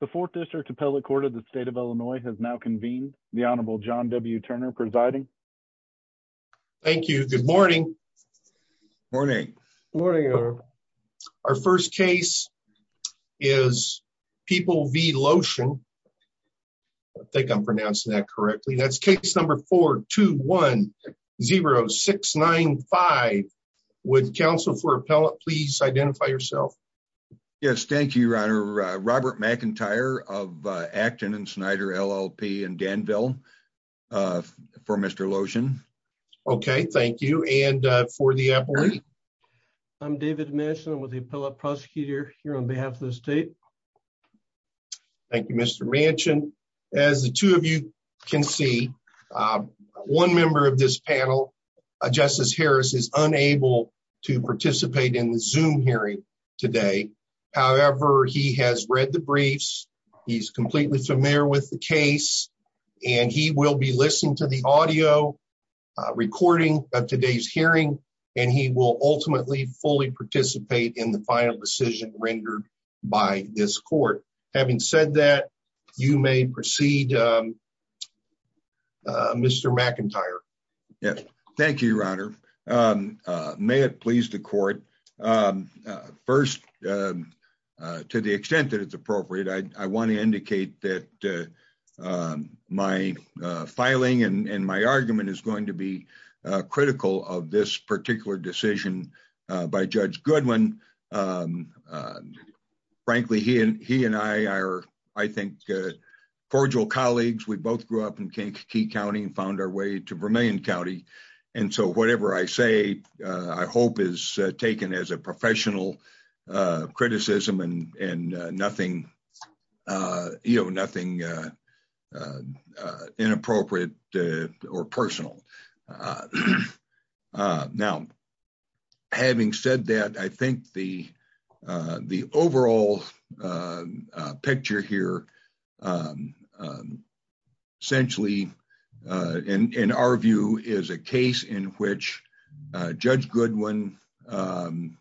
The fourth district appellate court of the state of Illinois has now convened. The Honorable John W. Turner presiding. Thank you. Good morning. Morning. Morning. Our first case is People v. Loschen. I think I'm pronouncing that correctly. That's case number 4210695. Would counsel for appellate please identify yourself. Yes, thank you, Your Honor. Robert McIntyre of Acton and Snyder LLP in Danville for Mr. Loschen. Okay, thank you. And for the appellate? I'm David Manchin with the appellate prosecutor here on behalf of the state. Thank you, Mr. Manchin. As the two of you can see, one member of this panel, Justice Harris, is unable to participate in the Zoom hearing today. However, he has read the briefs. He's completely familiar with the case. And he will be listening to the audio recording of today's hearing. And he will ultimately fully participate in the final decision rendered by this court. Having said that, you may proceed, Mr. McIntyre. Thank you, Your Honor. May it please the court. First, to the extent that it's appropriate, I want to indicate that my filing and my argument is going to be critical of this particular decision by Judge Goodwin. Frankly, he and I are, I think, cordial colleagues. We both grew up in Kankakee County and found our way to Vermillion County. And so whatever I say, I hope is taken as a professional criticism and nothing inappropriate or personal. Now, having said that, I think the overall picture here essentially, in our view, is a case in which Judge Goodwin felt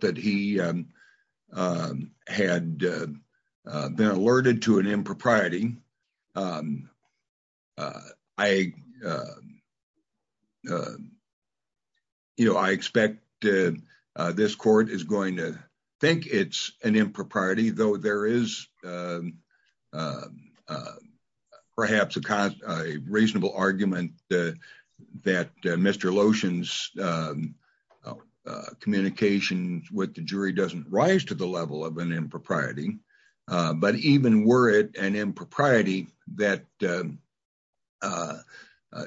that he had been alerted to an impropriety. I expect this court is going to think it's an impropriety, though there is perhaps a reasonable argument that Mr. Lotion's communication with the jury doesn't rise to the level of an impropriety. But even were it an impropriety, that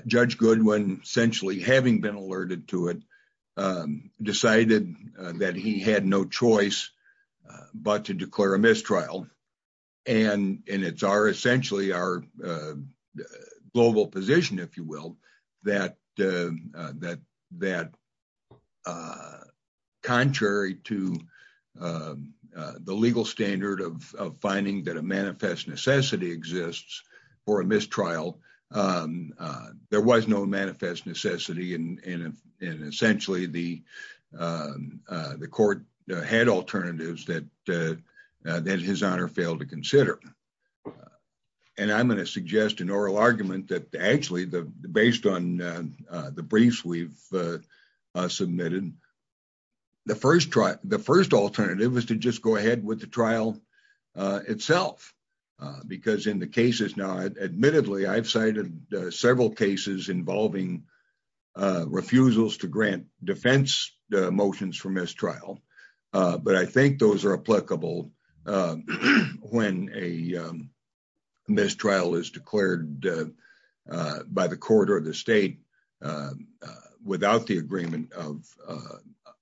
Judge Goodwin, essentially having been alerted to it, decided that he had no choice but to declare a mistrial. And it's essentially our global position, if you will, that contrary to the legal standard of finding that a manifest necessity exists for a mistrial, there was no manifest necessity. And essentially, the court had alternatives that his honor failed to consider. And I'm going to suggest an oral argument that actually, based on the briefs we've submitted, the first alternative was to just go ahead with the trial itself. Because in the cases now, admittedly, I've cited several cases involving refusals to grant defense motions for mistrial, but I think those are applicable when a mistrial is declared by the court or the state without the agreement of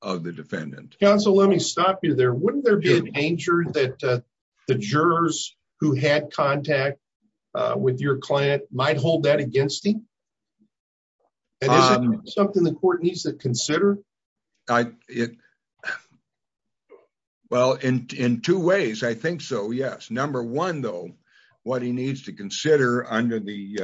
the defendant. Counsel, let me stop you there. Wouldn't there be a danger that the jurors who had contact with your client might hold that against him? And is it something the court needs to consider? Well, in two ways, I think so, yes. Number one, though, what he needs to consider under the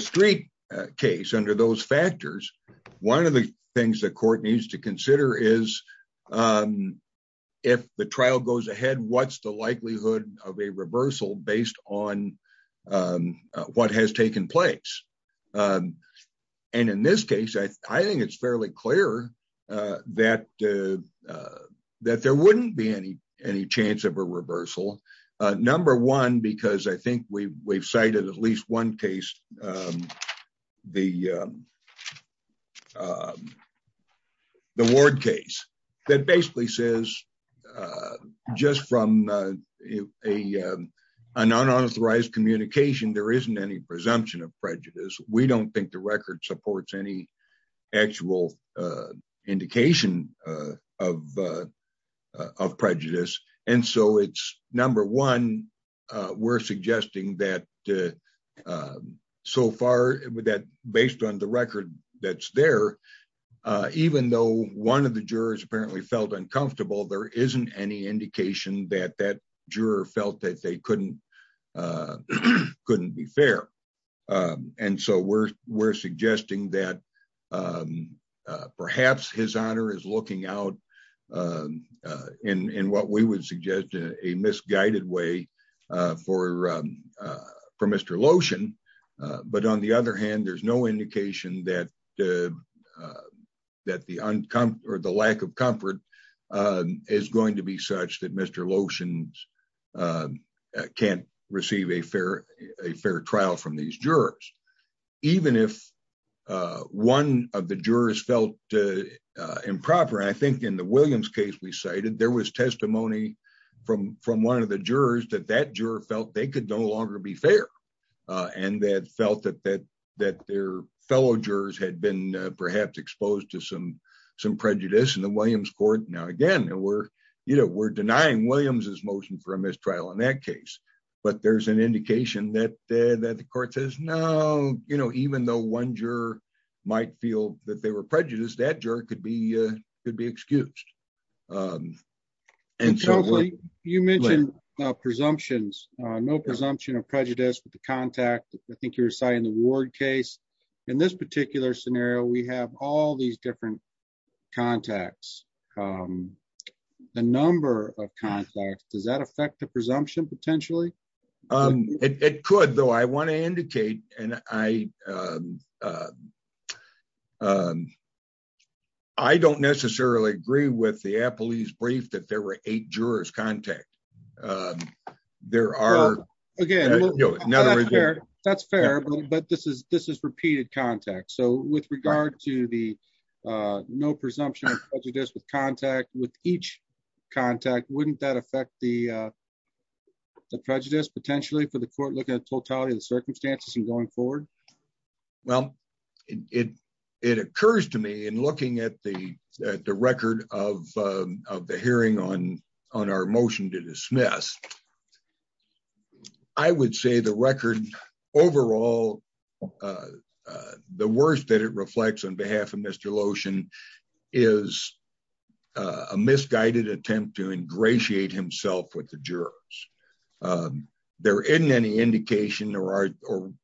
street case, under those factors, one of the things the court needs to consider is if the trial goes ahead, what's the likelihood of a reversal based on what has taken place? And in this case, I think it's fairly clear that there wouldn't be any chance of a reversal. Number one, because I think we've cited at least one case, the Ward case, that basically says just from an unauthorized communication, there isn't any presumption of prejudice. We don't think the record supports any actual indication of prejudice. And so it's number one, we're suggesting that so far, based on the record that's there, even though one of the jurors apparently felt uncomfortable, there isn't any indication that that juror felt that they couldn't be fair. And so we're suggesting that perhaps his honor is looking out in what we would suggest a misguided way for Mr. Lotion. But on the other hand, there's no indication that the lack of comfort is going to be such that Mr. Lotion can't receive a fair trial from these jurors, even if one of the jurors felt improper. And I think in the Williams case we cited, there was testimony from one of the jurors that that juror felt they could no longer be fair and that felt that their fellow jurors had been perhaps exposed to some prejudice in the Williams court. Now, again, we're denying Williams's motion for a mistrial in that case, but there's an indication that the court says no, even though one juror might feel that they were prejudiced, that juror could be excused. And so you mentioned presumptions, no presumption of prejudice with the contact. I think you're citing the Ward case. In this particular scenario, we have all these different contacts. The number of contacts, does that affect the presumption potentially? It could, though I want to indicate, and I don't necessarily agree with the appellee's brief that there were eight jurors contact. There are, again, that's fair, but this is this is repeated contact. So, with regard to the no presumption of prejudice with contact with each contact, wouldn't that affect the prejudice potentially for the court looking at totality of the circumstances and going forward? Well, it occurs to me in looking at the record of the hearing on our motion to dismiss, I would say the record overall, the worst that it reflects on behalf of Mr. Lotion is a misguided attempt to ingratiate himself with the jurors. There isn't any indication or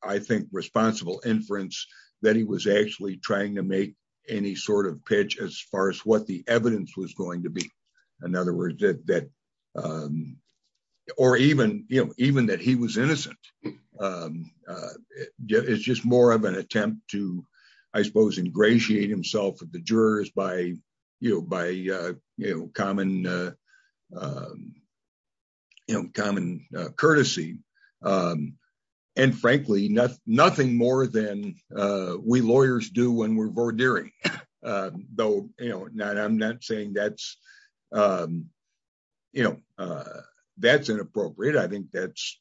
I think responsible inference that he was actually trying to make any sort of pitch as far as what the evidence was going to be. In other words, that or even even that he was innocent. It's just more of an attempt to, I suppose, ingratiate himself with the jurors by, you know, by common. You know, common courtesy. And frankly, nothing more than we lawyers do when we're vordering, though, you know, not I'm not saying that's, you know, that's inappropriate. I think that's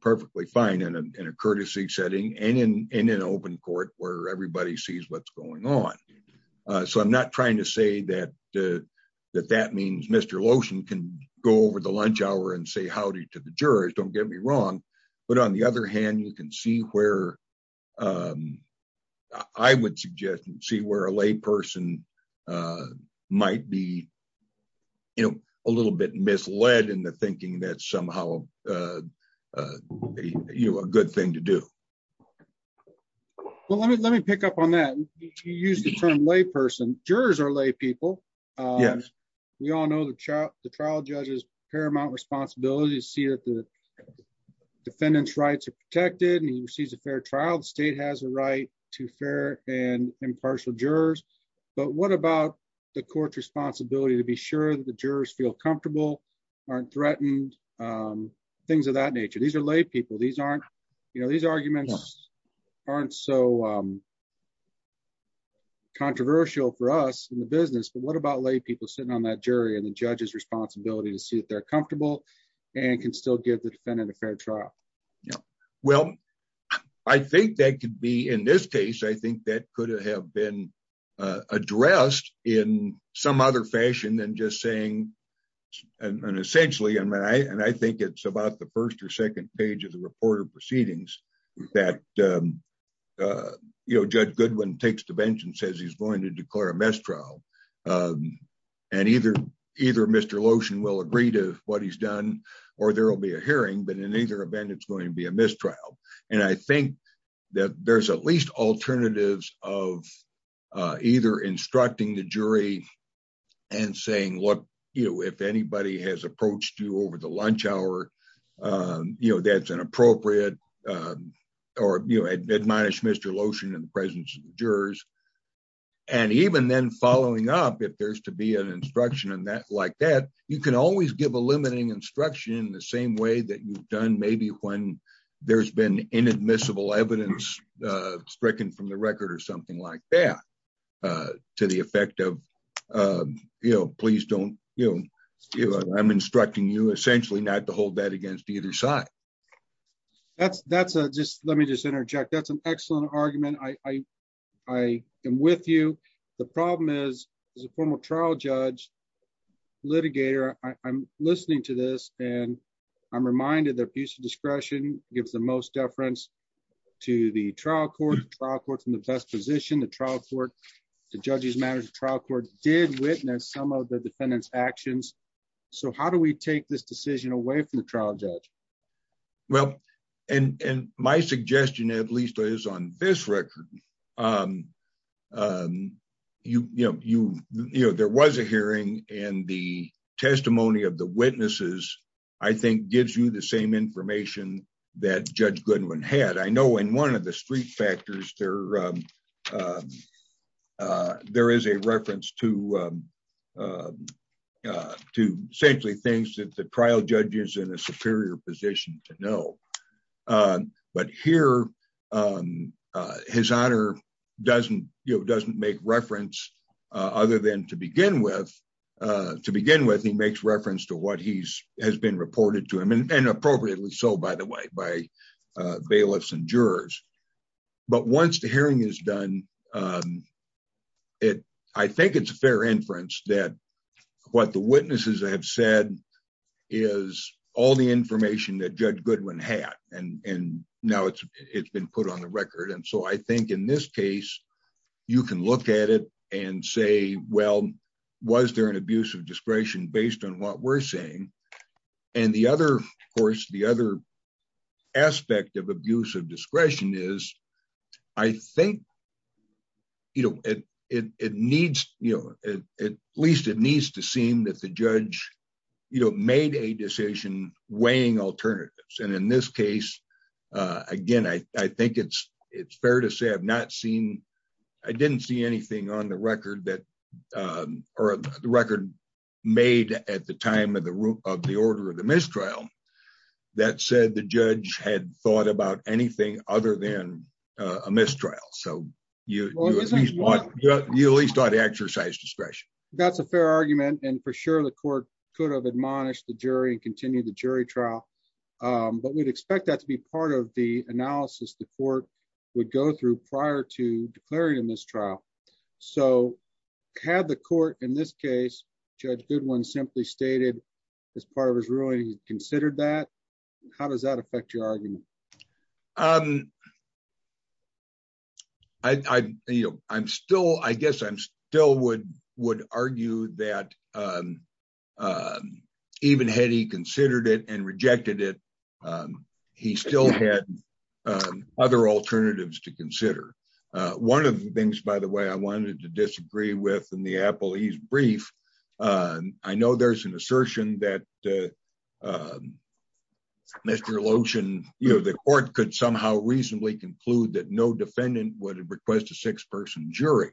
perfectly fine in a courtesy setting and in an open court where everybody sees what's going on. So I'm not trying to say that that that means Mr. Lotion can go over the lunch hour and say howdy to the jurors. Don't get me wrong. But on the other hand, you can see where I would suggest and see where a lay person might be, you know, a little bit misled in the thinking that somehow you a good thing to do. Well, let me let me pick up on that. You use the term lay person. Jurors are lay people. We all know the trial judge's paramount responsibility to see that the defendant's rights are protected and he receives a fair trial. The state has a right to fair and impartial jurors. But what about the court's responsibility to be sure that the jurors feel comfortable, aren't threatened, things of that nature? These are lay people. These aren't you know, these arguments aren't so controversial for us in the business. But what about lay people sitting on that jury and the judge's responsibility to see if they're comfortable and can still give the defendant a fair trial? Well, I think that could be in this case, I think that could have been addressed in some other fashion than just saying and essentially. And I think it's about the first or second page of the report of proceedings that, you know, Judge Goodwin takes the bench and says he's going to declare a mistrial. And either either Mr. Lotion will agree to what he's done or there will be a hearing. But in either event, it's going to be a mistrial. And I think that there's at least alternatives of either instructing the jury and saying, look, if anybody has approached you over the lunch hour, you know, that's inappropriate or, you know, admonish Mr. Lotion in the presence of the jurors. And even then following up, if there's to be an instruction and that like that, you can always give a limiting instruction in the same way that you've done, maybe when there's been inadmissible evidence stricken from the record or something like that to the effect of, you know, please don't, you know, I'm instructing you essentially not to hold that against either side. That's that's just let me just interject. That's an excellent argument. I, I am with you. The problem is, as a former trial judge litigator, I'm listening to this and I'm reminded that abuse of discretion gives the most deference to the trial court trial court from the best position, the trial court, the judges matters, the trial court did witness some of the defendant's actions. So how do we take this decision away from the trial judge? Well, and my suggestion, at least is on this record. You know, you know, there was a hearing and the testimony of the witnesses, I think, gives you the same information that Judge Goodwin had. I know in one of the street factors there, there is a reference to to essentially things that the trial judge is in a superior position to know. But here, his honor doesn't, you know, doesn't make reference other than to begin with. To begin with, he makes reference to what he's has been reported to him and appropriately so, by the way, by bailiffs and jurors. But once the hearing is done, it I think it's a fair inference that what the witnesses have said is all the information that Judge Goodwin had. And now it's it's been put on the record. And so I think in this case, you can look at it and say, well, was there an abuse of discretion based on what we're saying? And the other course, the other aspect of abuse of discretion is, I think. You know, it it needs, you know, at least it needs to seem that the judge, you know, made a decision weighing alternatives. And in this case, again, I think it's it's fair to say I've not seen I didn't see anything on the record that or the record made at the time of the of the order of the mistrial. That said, the judge had thought about anything other than a mistrial. So, you know, you at least ought to exercise discretion. That's a fair argument. And for sure, the court could have admonished the jury and continue the jury trial. But we'd expect that to be part of the analysis the court would go through prior to declaring in this trial. So had the court in this case, Judge Goodwin simply stated as part of his ruling, he considered that. How does that affect your argument? I, you know, I'm still I guess I'm still would would argue that even had he considered it and rejected it, he still had other alternatives to consider. One of the things, by the way, I wanted to disagree with in the Apple is brief. I know there's an assertion that Mr. Lotion, you know, the court could somehow reasonably conclude that no defendant would request a six person jury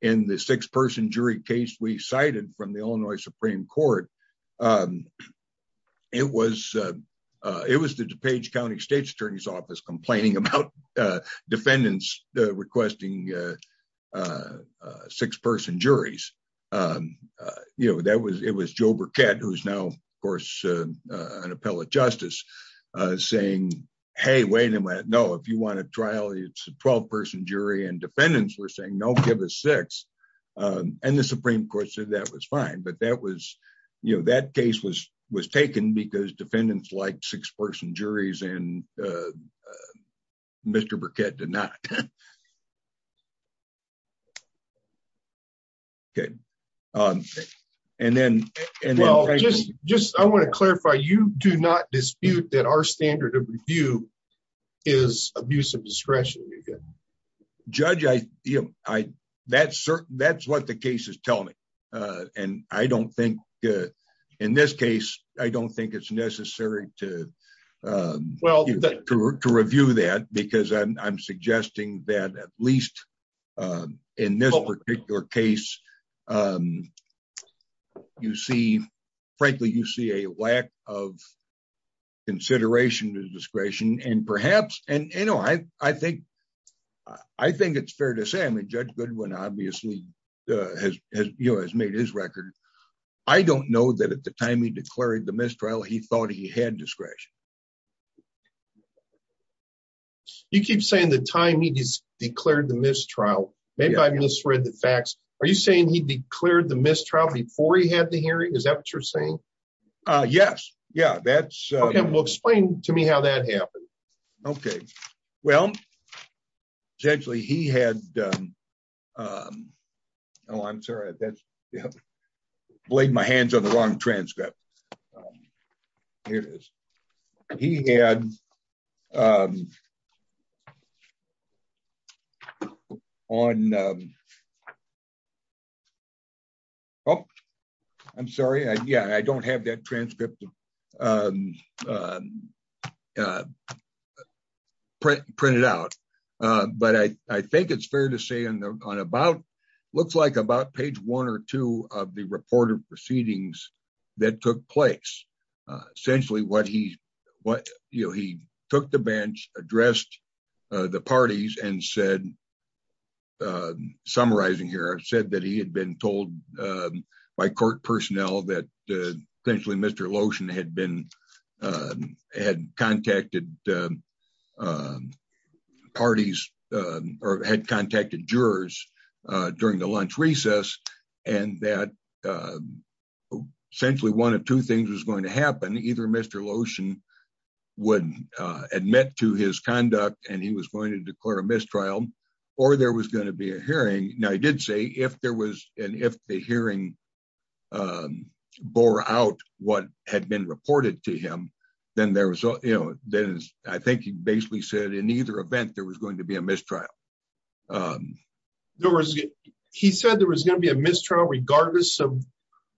in the six person jury case we cited from the Illinois Supreme Court. It was it was the DuPage County State's attorney's office complaining about defendants requesting six person juries. You know, that was it was Joe Burkett, who is now, of course, an appellate justice saying, hey, wait a minute. No, if you want to trial, it's a 12 person jury and defendants were saying, no, give us six. And the Supreme Court said that was fine. But that was, you know, that case was was taken because defendants like six person juries and Mr. Burkett did not. And then just I want to clarify, you do not dispute that our standard of review is abuse of discretion. Judge, I, you know, I that's that's what the case is telling me. And I don't think in this case, I don't think it's necessary to. Well, to review that, because I'm suggesting that at least in this particular case, you see, frankly, you see a lack of consideration of discretion and perhaps. And, you know, I think I think it's fair to say, I mean, Judge Goodwin obviously has made his record. I don't know that at the time he declared the mistrial, he thought he had discretion. You keep saying the time he declared the mistrial, maybe I misread the facts. Are you saying he declared the mistrial before he had the hearing? Is that what you're saying? Yes. Yeah, that's. Explain to me how that happened. Okay. Well, essentially, he had. Oh, I'm sorry. That's blade my hands on the wrong transcript. He had on. And. Oh, I'm sorry. Yeah, I don't have that transcript printed out. But I think it's fair to say on the on about looks like about page one or two of the reported proceedings that took place. Essentially what he what he took the bench addressed the parties and said, summarizing here, said that he had been told by court personnel that essentially Mr. Lotion had been had contacted parties or had contacted jurors during the lunch recess. And that essentially one of two things was going to happen. Either Mr. Lotion would admit to his conduct and he was going to declare a mistrial or there was going to be a hearing. Now, I did say if there was an if the hearing bore out what had been reported to him, then there was, you know, then I think he basically said in either event, there was going to be a mistrial. There was, he said there was going to be a mistrial regardless of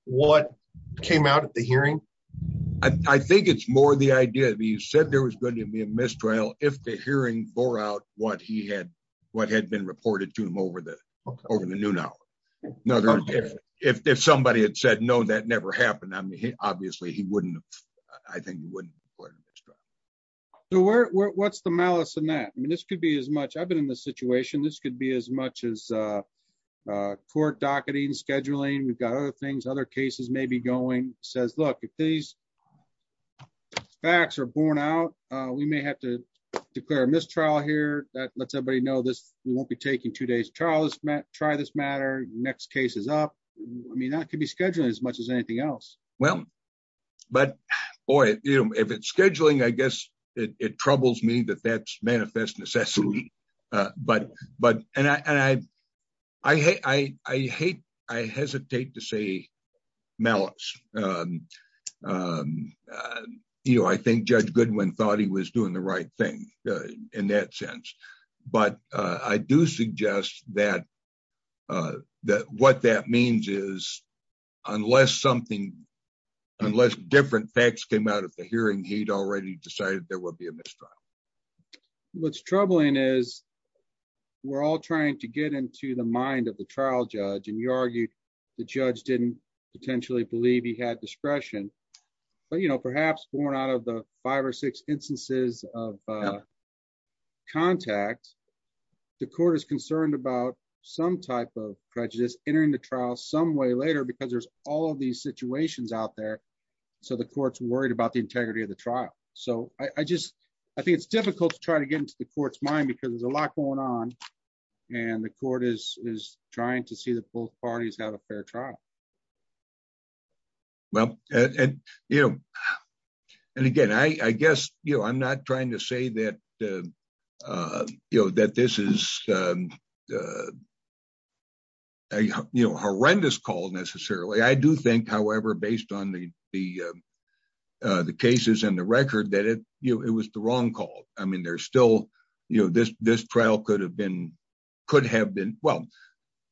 what came out at the hearing. I think it's more the idea of you said there was going to be a mistrial if the hearing bore out what he had what had been reported to him over the over the noon hour. If somebody had said no that never happened. I mean, obviously he wouldn't. I think wouldn't. What's the malice in that I mean this could be as much I've been in this situation this could be as much as court docketing scheduling we've got other things other cases maybe going says look if these facts are borne out, we may have to declare a mistrial here that lets everybody know this won't be taking two days Charles Matt try this matter. Next case is up. I mean that can be scheduled as much as anything else. Well, but, or if it's scheduling I guess it troubles me that that's manifest necessity. But, but, and I, I hate, I hate, I hesitate to say malice. You know I think Judge Goodwin thought he was doing the right thing. In that sense, but I do suggest that that what that means is, unless something, unless different facts came out of the hearing he'd already decided there will be a mistrial. What's troubling is we're all trying to get into the mind of the trial judge and you argued, the judge didn't potentially believe he had discretion, but you know perhaps born out of the five or six instances of contact. The court is concerned about some type of prejudice entering the trial some way later because there's all these situations out there. So the courts worried about the integrity of the trial. So, I just, I think it's difficult to try to get into the court's mind because there's a lot going on. And the court is trying to see the both parties have a fair trial. Well, and, you know, and again I guess you know I'm not trying to say that, you know, that this is a horrendous call necessarily I do think, however, based on the, the, the cases and the record that it, you know, it was the wrong call. I mean there's still, you know, this, this trial could have been could have been well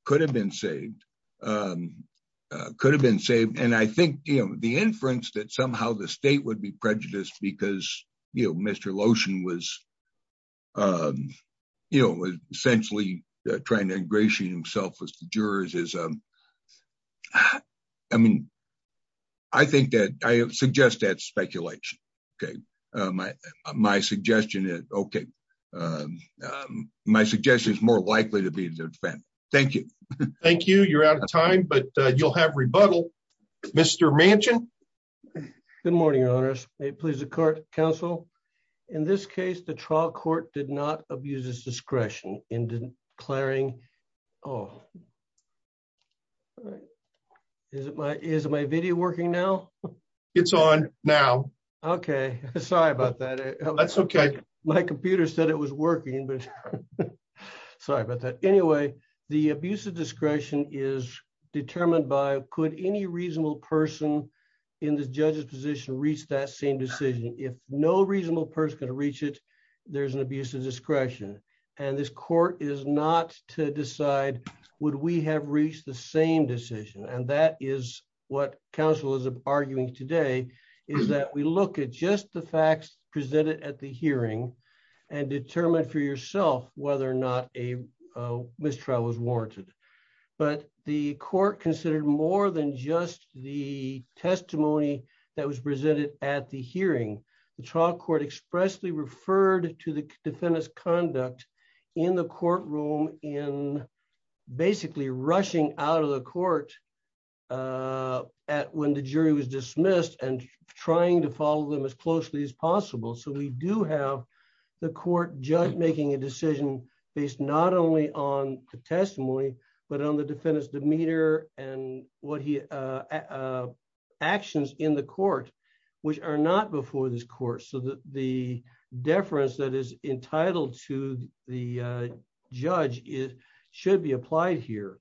could have been saved. Could have been saved. And I think, you know, the inference that somehow the state would be prejudiced because, you know, Mr lotion was, you know, essentially trying to ingratiate himself with jurors is, I mean, I think that I suggest that speculation. Okay. My, my suggestion is okay. My suggestion is more likely to be the event. Thank you. Thank you. You're out of time but you'll have rebuttal. Mr mansion. Good morning, honest, a pleasant court counsel. In this case the trial court did not abuse his discretion in declaring. Oh, is it my is my video working now. It's on now. Okay, sorry about that. That's okay. My computer said it was working but. Sorry about that. Anyway, the abuse of discretion is determined by could any reasonable person in the judges position reach that same decision if no reasonable person to reach it. There's an abuse of discretion. And this court is not to decide, would we have reached the same decision and that is what counsel is arguing today is that we look at just the facts presented at the hearing and determine for yourself, whether or not a mistrial was warranted, but the court considered more than just the testimony that was presented at the hearing the trial court expressly referred to the defendants conduct in the courtroom in basically rushing out of the court. At when the jury was dismissed and trying to follow them as closely as possible so we do have the court judge making a decision based not only on the testimony, but on the defendants demeanor, and what he actions in the court, which are not before this court so that the deference that is entitled to the judge is should be applied here.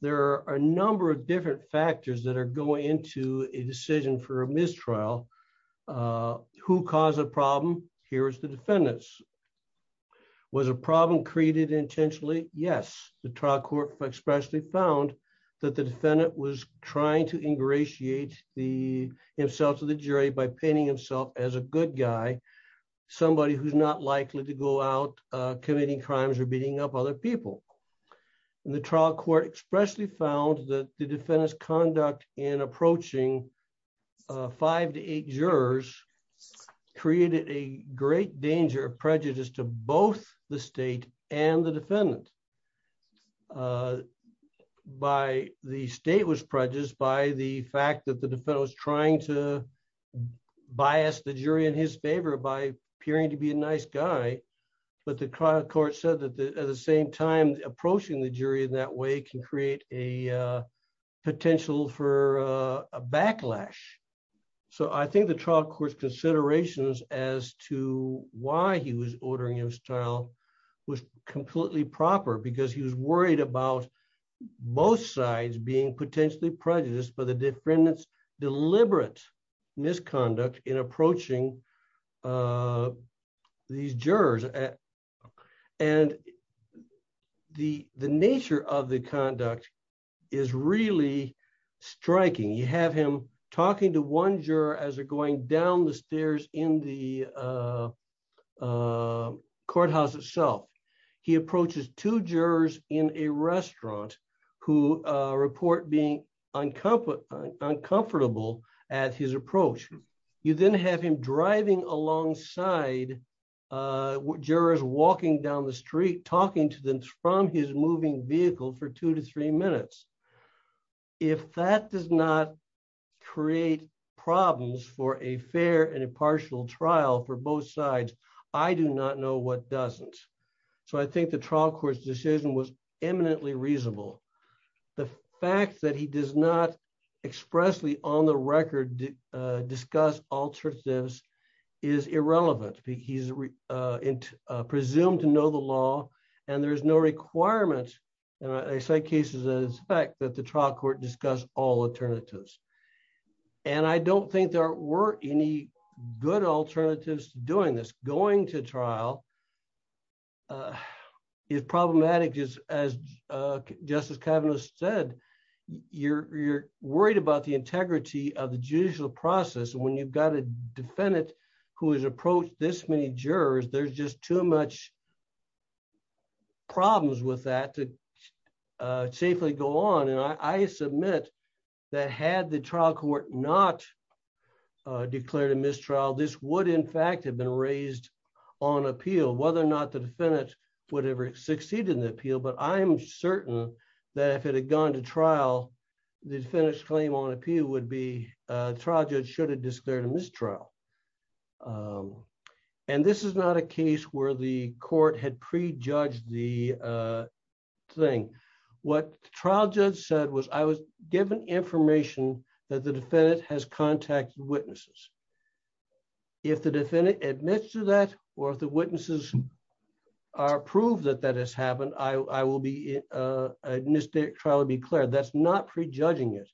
There are a number of different factors that are going into a decision for a mistrial. Who caused the problem. Here's the defendants was a problem created intentionally, yes, the trial court, especially found that the defendant was trying to ingratiate the himself to the jury by painting himself as a good guy. Somebody who's not likely to go out committing crimes are beating up other people. The trial court expressly found that the defendants conduct in approaching five to eight jurors created a great danger of prejudice to both the state and the defendant. By the state was prejudice by the fact that the defendant was trying to bias the jury in his favor by appearing to be a nice guy, but the trial court said that at the same time, approaching the jury in that way can create a potential for a backlash. So I think the trial court considerations as to why he was ordering your style was completely proper because he was worried about both sides being potentially prejudice but the defendants deliberate misconduct in approaching these jurors. And the, the nature of the conduct is really striking you have him talking to one juror as are going down the stairs in the courthouse itself. He approaches to jurors in a restaurant, who report being uncomfortable uncomfortable at his approach, you then have him driving alongside jurors walking down the street talking to them from his moving vehicle for two to three minutes. If that does not create problems for a fair and impartial trial for both sides. I do not know what doesn't. So I think the trial court decision was eminently reasonable. The fact that he does not expressly on the record, discuss alternatives is irrelevant. He's presumed to know the law, and there's no requirement. I say cases as fact that the trial court discuss all alternatives. And I don't think there were any good alternatives doing this going to trial is problematic is, as Justice Kavanaugh said, you're, you're worried about the integrity of the judicial process when you've got a defendant who is approached this many jurors there's just too much problems with that to safely go on and I submit that had the trial court, not declared a mistrial this would in fact have been raised on appeal whether or not the defendant, whatever succeeded in the appeal but I'm certain that if it had gone to trial, the finished claim on appeal would be tragic should have declared a mistrial. And this is not a case where the court had prejudged the thing. What trial judge said was I was given information that the defendant has contacted witnesses. If the defendant admits to that, or if the witnesses are proved that that has happened, I will be a mistake trial to be clear that's not prejudging it.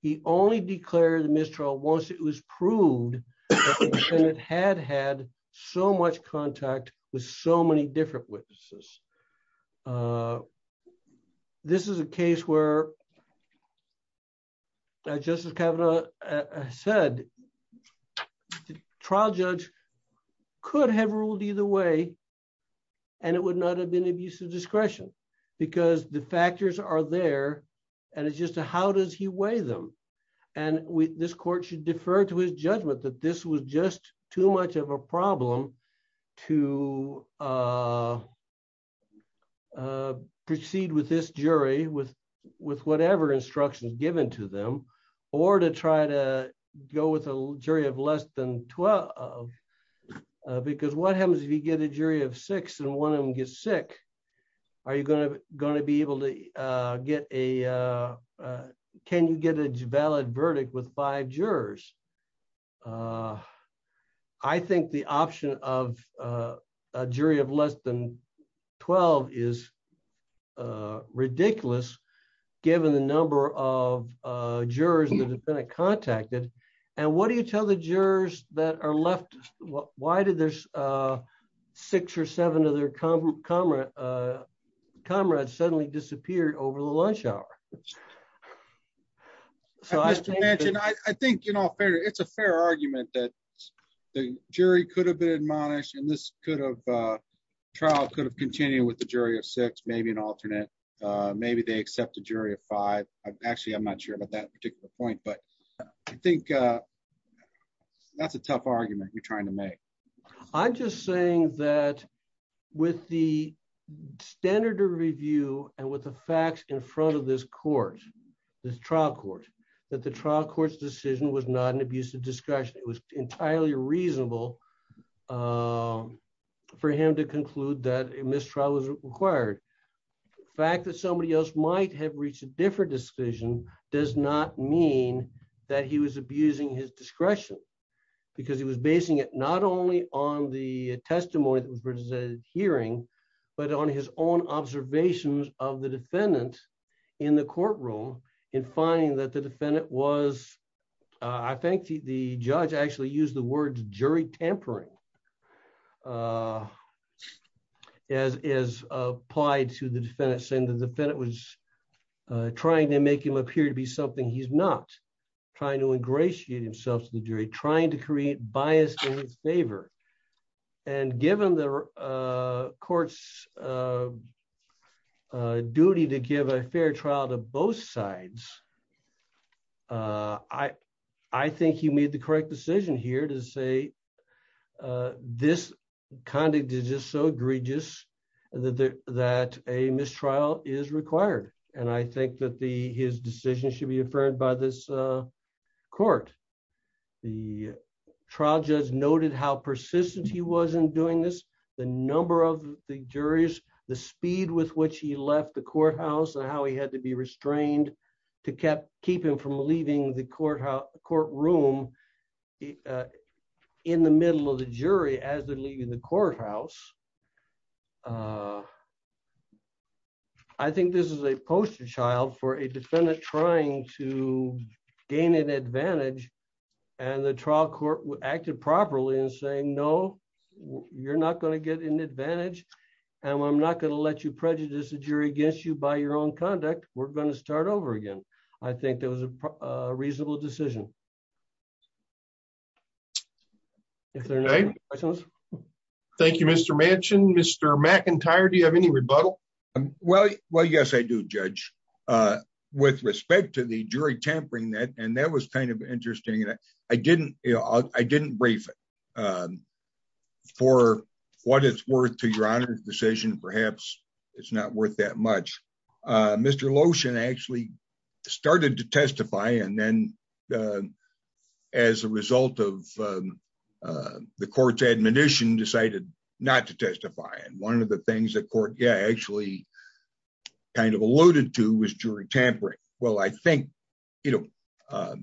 He only declared mistrial once it was proved. It had had so much contact with so many different witnesses. This is a case where Justice Kavanaugh said trial judge could have ruled either way. And it would not have been abusive discretion, because the factors are there. And it's just a how does he weigh them. And we, this court should defer to his judgment that this was just too much of a problem to proceed with this jury with with whatever instructions given to them, or to try to go with a jury of less than 12. Because what happens if you get a jury of six and one of them gets sick. Are you going to going to be able to get a. Can you get a valid verdict with five jurors. I think the option of a jury of less than 12 is ridiculous. Given the number of jurors and the defendant contacted. And what do you tell the jurors that are left. Why did there's six or seven other com comrades comrades suddenly disappeared over the lunch hour. So as you mentioned, I think, you know, it's a fair argument that the jury could have been admonished and this could have trial could have continued with the jury of six maybe an alternate. Maybe they accept the jury of five. Actually, I'm not sure about that particular point but I think that's a tough argument you're trying to make. I'm just saying that with the standard of review, and with the facts in front of this court. This trial court that the trial courts decision was not an abusive discretion, it was entirely reasonable for him to conclude that a mistrial is required. Fact that somebody else might have reached a different decision does not mean that he was abusing his discretion, because he was basing it not only on the testimony that was presented hearing, but on his own observations of the defendant in the courtroom in finding that the defendant was. I think the judge actually use the words jury tampering as is applied to the defense and the defendant was trying to make him appear to be something he's not trying to ingratiate himself to the jury trying to create bias in favor. And given the courts duty to give a fair trial to both sides. I, I think you made the correct decision here to say this conduct is just so egregious that that a mistrial is required, and I think that the his decision should be affirmed by this court. The trial just noted how persistent he wasn't doing this, the number of the jurors, the speed with which he left the courthouse and how he had to be restrained to kept keeping from leaving the courthouse courtroom. In the middle of the jury as they're leaving the courthouse. I think this is a poster child for a defendant trying to gain an advantage, and the trial court acted properly and saying no, you're not going to get an advantage. And I'm not going to let you prejudice the jury against you by your own conduct, we're going to start over again. I think there was a reasonable decision. Thank you, Mr mentioned Mr McIntyre Do you have any rebuttal. Well, well yes I do judge. With respect to the jury tampering that and that was kind of interesting and I didn't, I didn't brief for what it's worth to your honor decision perhaps it's not worth that much. Mr lotion actually started to testify and then as a result of the court's admonition decided not to testify and one of the things that court yeah actually kind of alluded to was jury tampering. Well, I think, you know,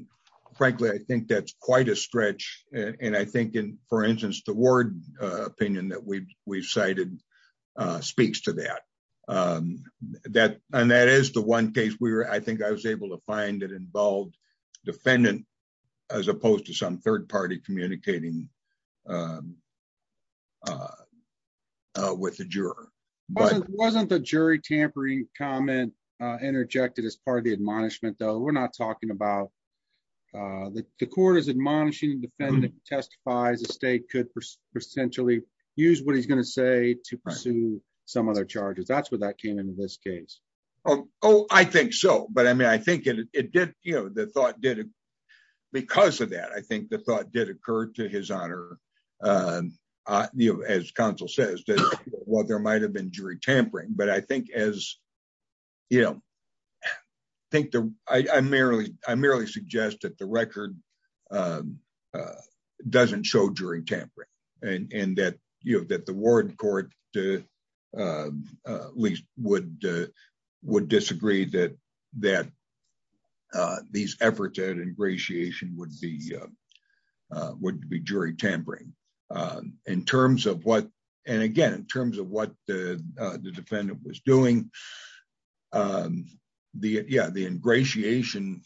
frankly, I think that's quite a stretch, and I think in, for instance, the word opinion that we we've cited speaks to that, that, and that is the one case where I think I was able to find it involved defendant, as opposed to some third party communicating with the juror, but wasn't the jury tampering comment interjected as part of the admonishment though we're not talking about the court is admonishing defendant testifies the state could essentially use what he's going to say to some other charges that's what that came into this case. Oh, I think so, but I mean I think it did, you know, the thought did. Because of that I think the thought did occur to his honor. You know, as Council says that while there might have been jury tampering but I think as you know, think I merely, I merely suggest that the record doesn't show jury tampering, and that you have that the word court to least would would disagree that that these efforts at ingratiation would be would be jury tampering in terms of what, and again in terms of what the defendant was doing the yeah the ingratiation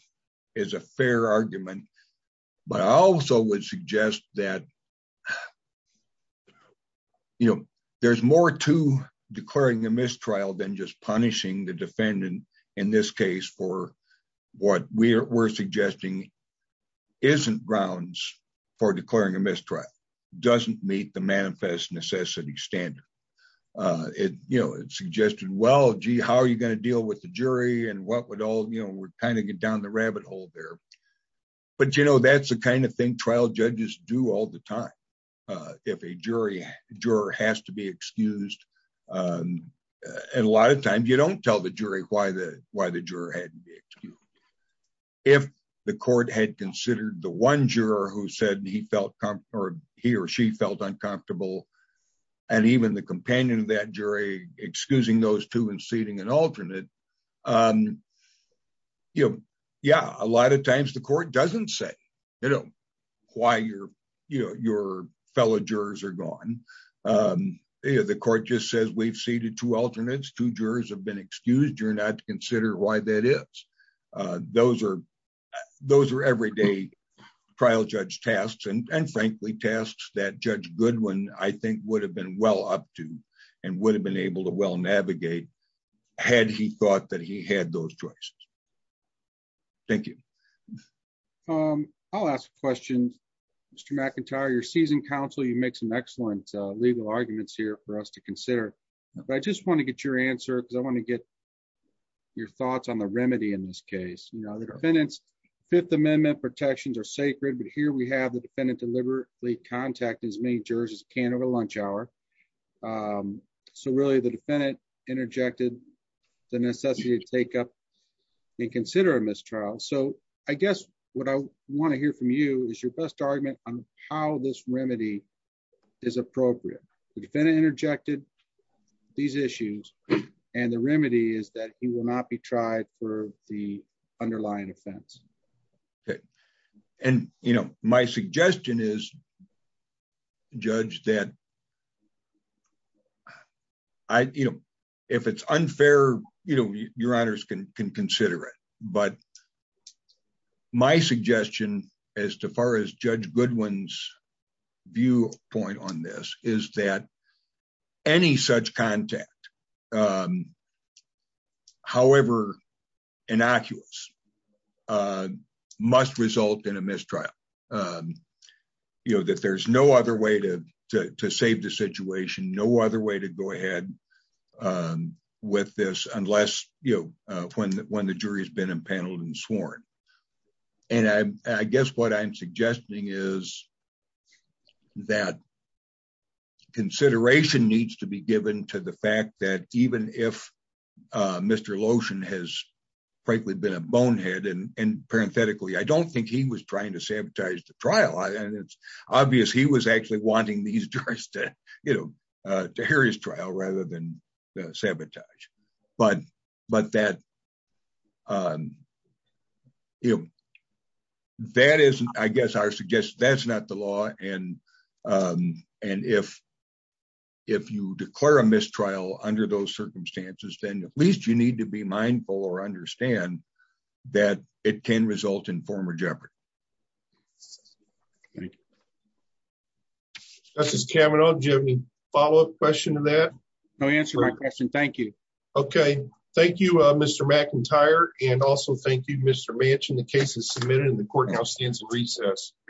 is a fair argument, but I also would suggest that, you know, there's more to declaring a mistrial than just punishing the defendant. In this case for what we're suggesting isn't grounds for declaring a mistrial doesn't meet the manifest necessity standard. It, you know, it suggested well gee how are you going to deal with the jury and what would all you know we're kind of get down the rabbit hole there. But you know that's the kind of thing trial judges do all the time. If a jury juror has to be excused. And a lot of times you don't tell the jury why the, why the juror had. If the court had considered the one juror who said he felt comfort, he or she felt uncomfortable. And even the companion that jury, excusing those two and seating and alternate. You know, yeah, a lot of times the court doesn't say, you know, why you're, you know, your fellow jurors are gone. The court just says we've seated two alternates to jurors have been excused you're not to consider why that is. Those are those are everyday trial judge tasks and frankly tasks that Judge Goodwin, I think would have been well up to, and would have been able to well navigate. Had he thought that he had those choices. Thank you. I'll ask questions. Mr McIntyre your season council you make some excellent legal arguments here for us to consider. But I just want to get your answer because I want to get your thoughts on the remedy in this case, you know the defendants Fifth Amendment protections are sacred but here we have the defendant deliberately contact as many jurors as can over lunch hour. So really the defendant interjected the necessity to take up and consider him as Charles so I guess what I want to hear from you is your best argument on how this remedy is appropriate defendant interjected these issues. And the remedy is that he will not be tried for the underlying offense. And, you know, my suggestion is judge that I, you know, if it's unfair, you know, your honors can consider it, but my suggestion as far as Judge Goodwin's view point on this is that any such contact. However, innocuous must result in a mistrial. You know that there's no other way to save the situation no other way to go ahead with this, unless you know when when the jury has been impaneled and sworn. And I guess what I'm suggesting is that consideration needs to be given to the fact that even if Mr lotion has frankly been a bonehead and parenthetically I don't think he was trying to sabotage the trial and it's obvious he was actually wanting these you know, to Harry's trial rather than sabotage, but, but that that is, I guess I suggest that's not the law and. And if, if you declare a mistrial under those circumstances, then at least you need to be mindful or understand that it can result in former Jeopardy. Thank you. This is Kevin on Jimmy follow up question to that. No answer my question. Thank you. Okay. Thank you, Mr McIntyre, and also thank you Mr mentioned the cases submitted in the courthouse stands and recess.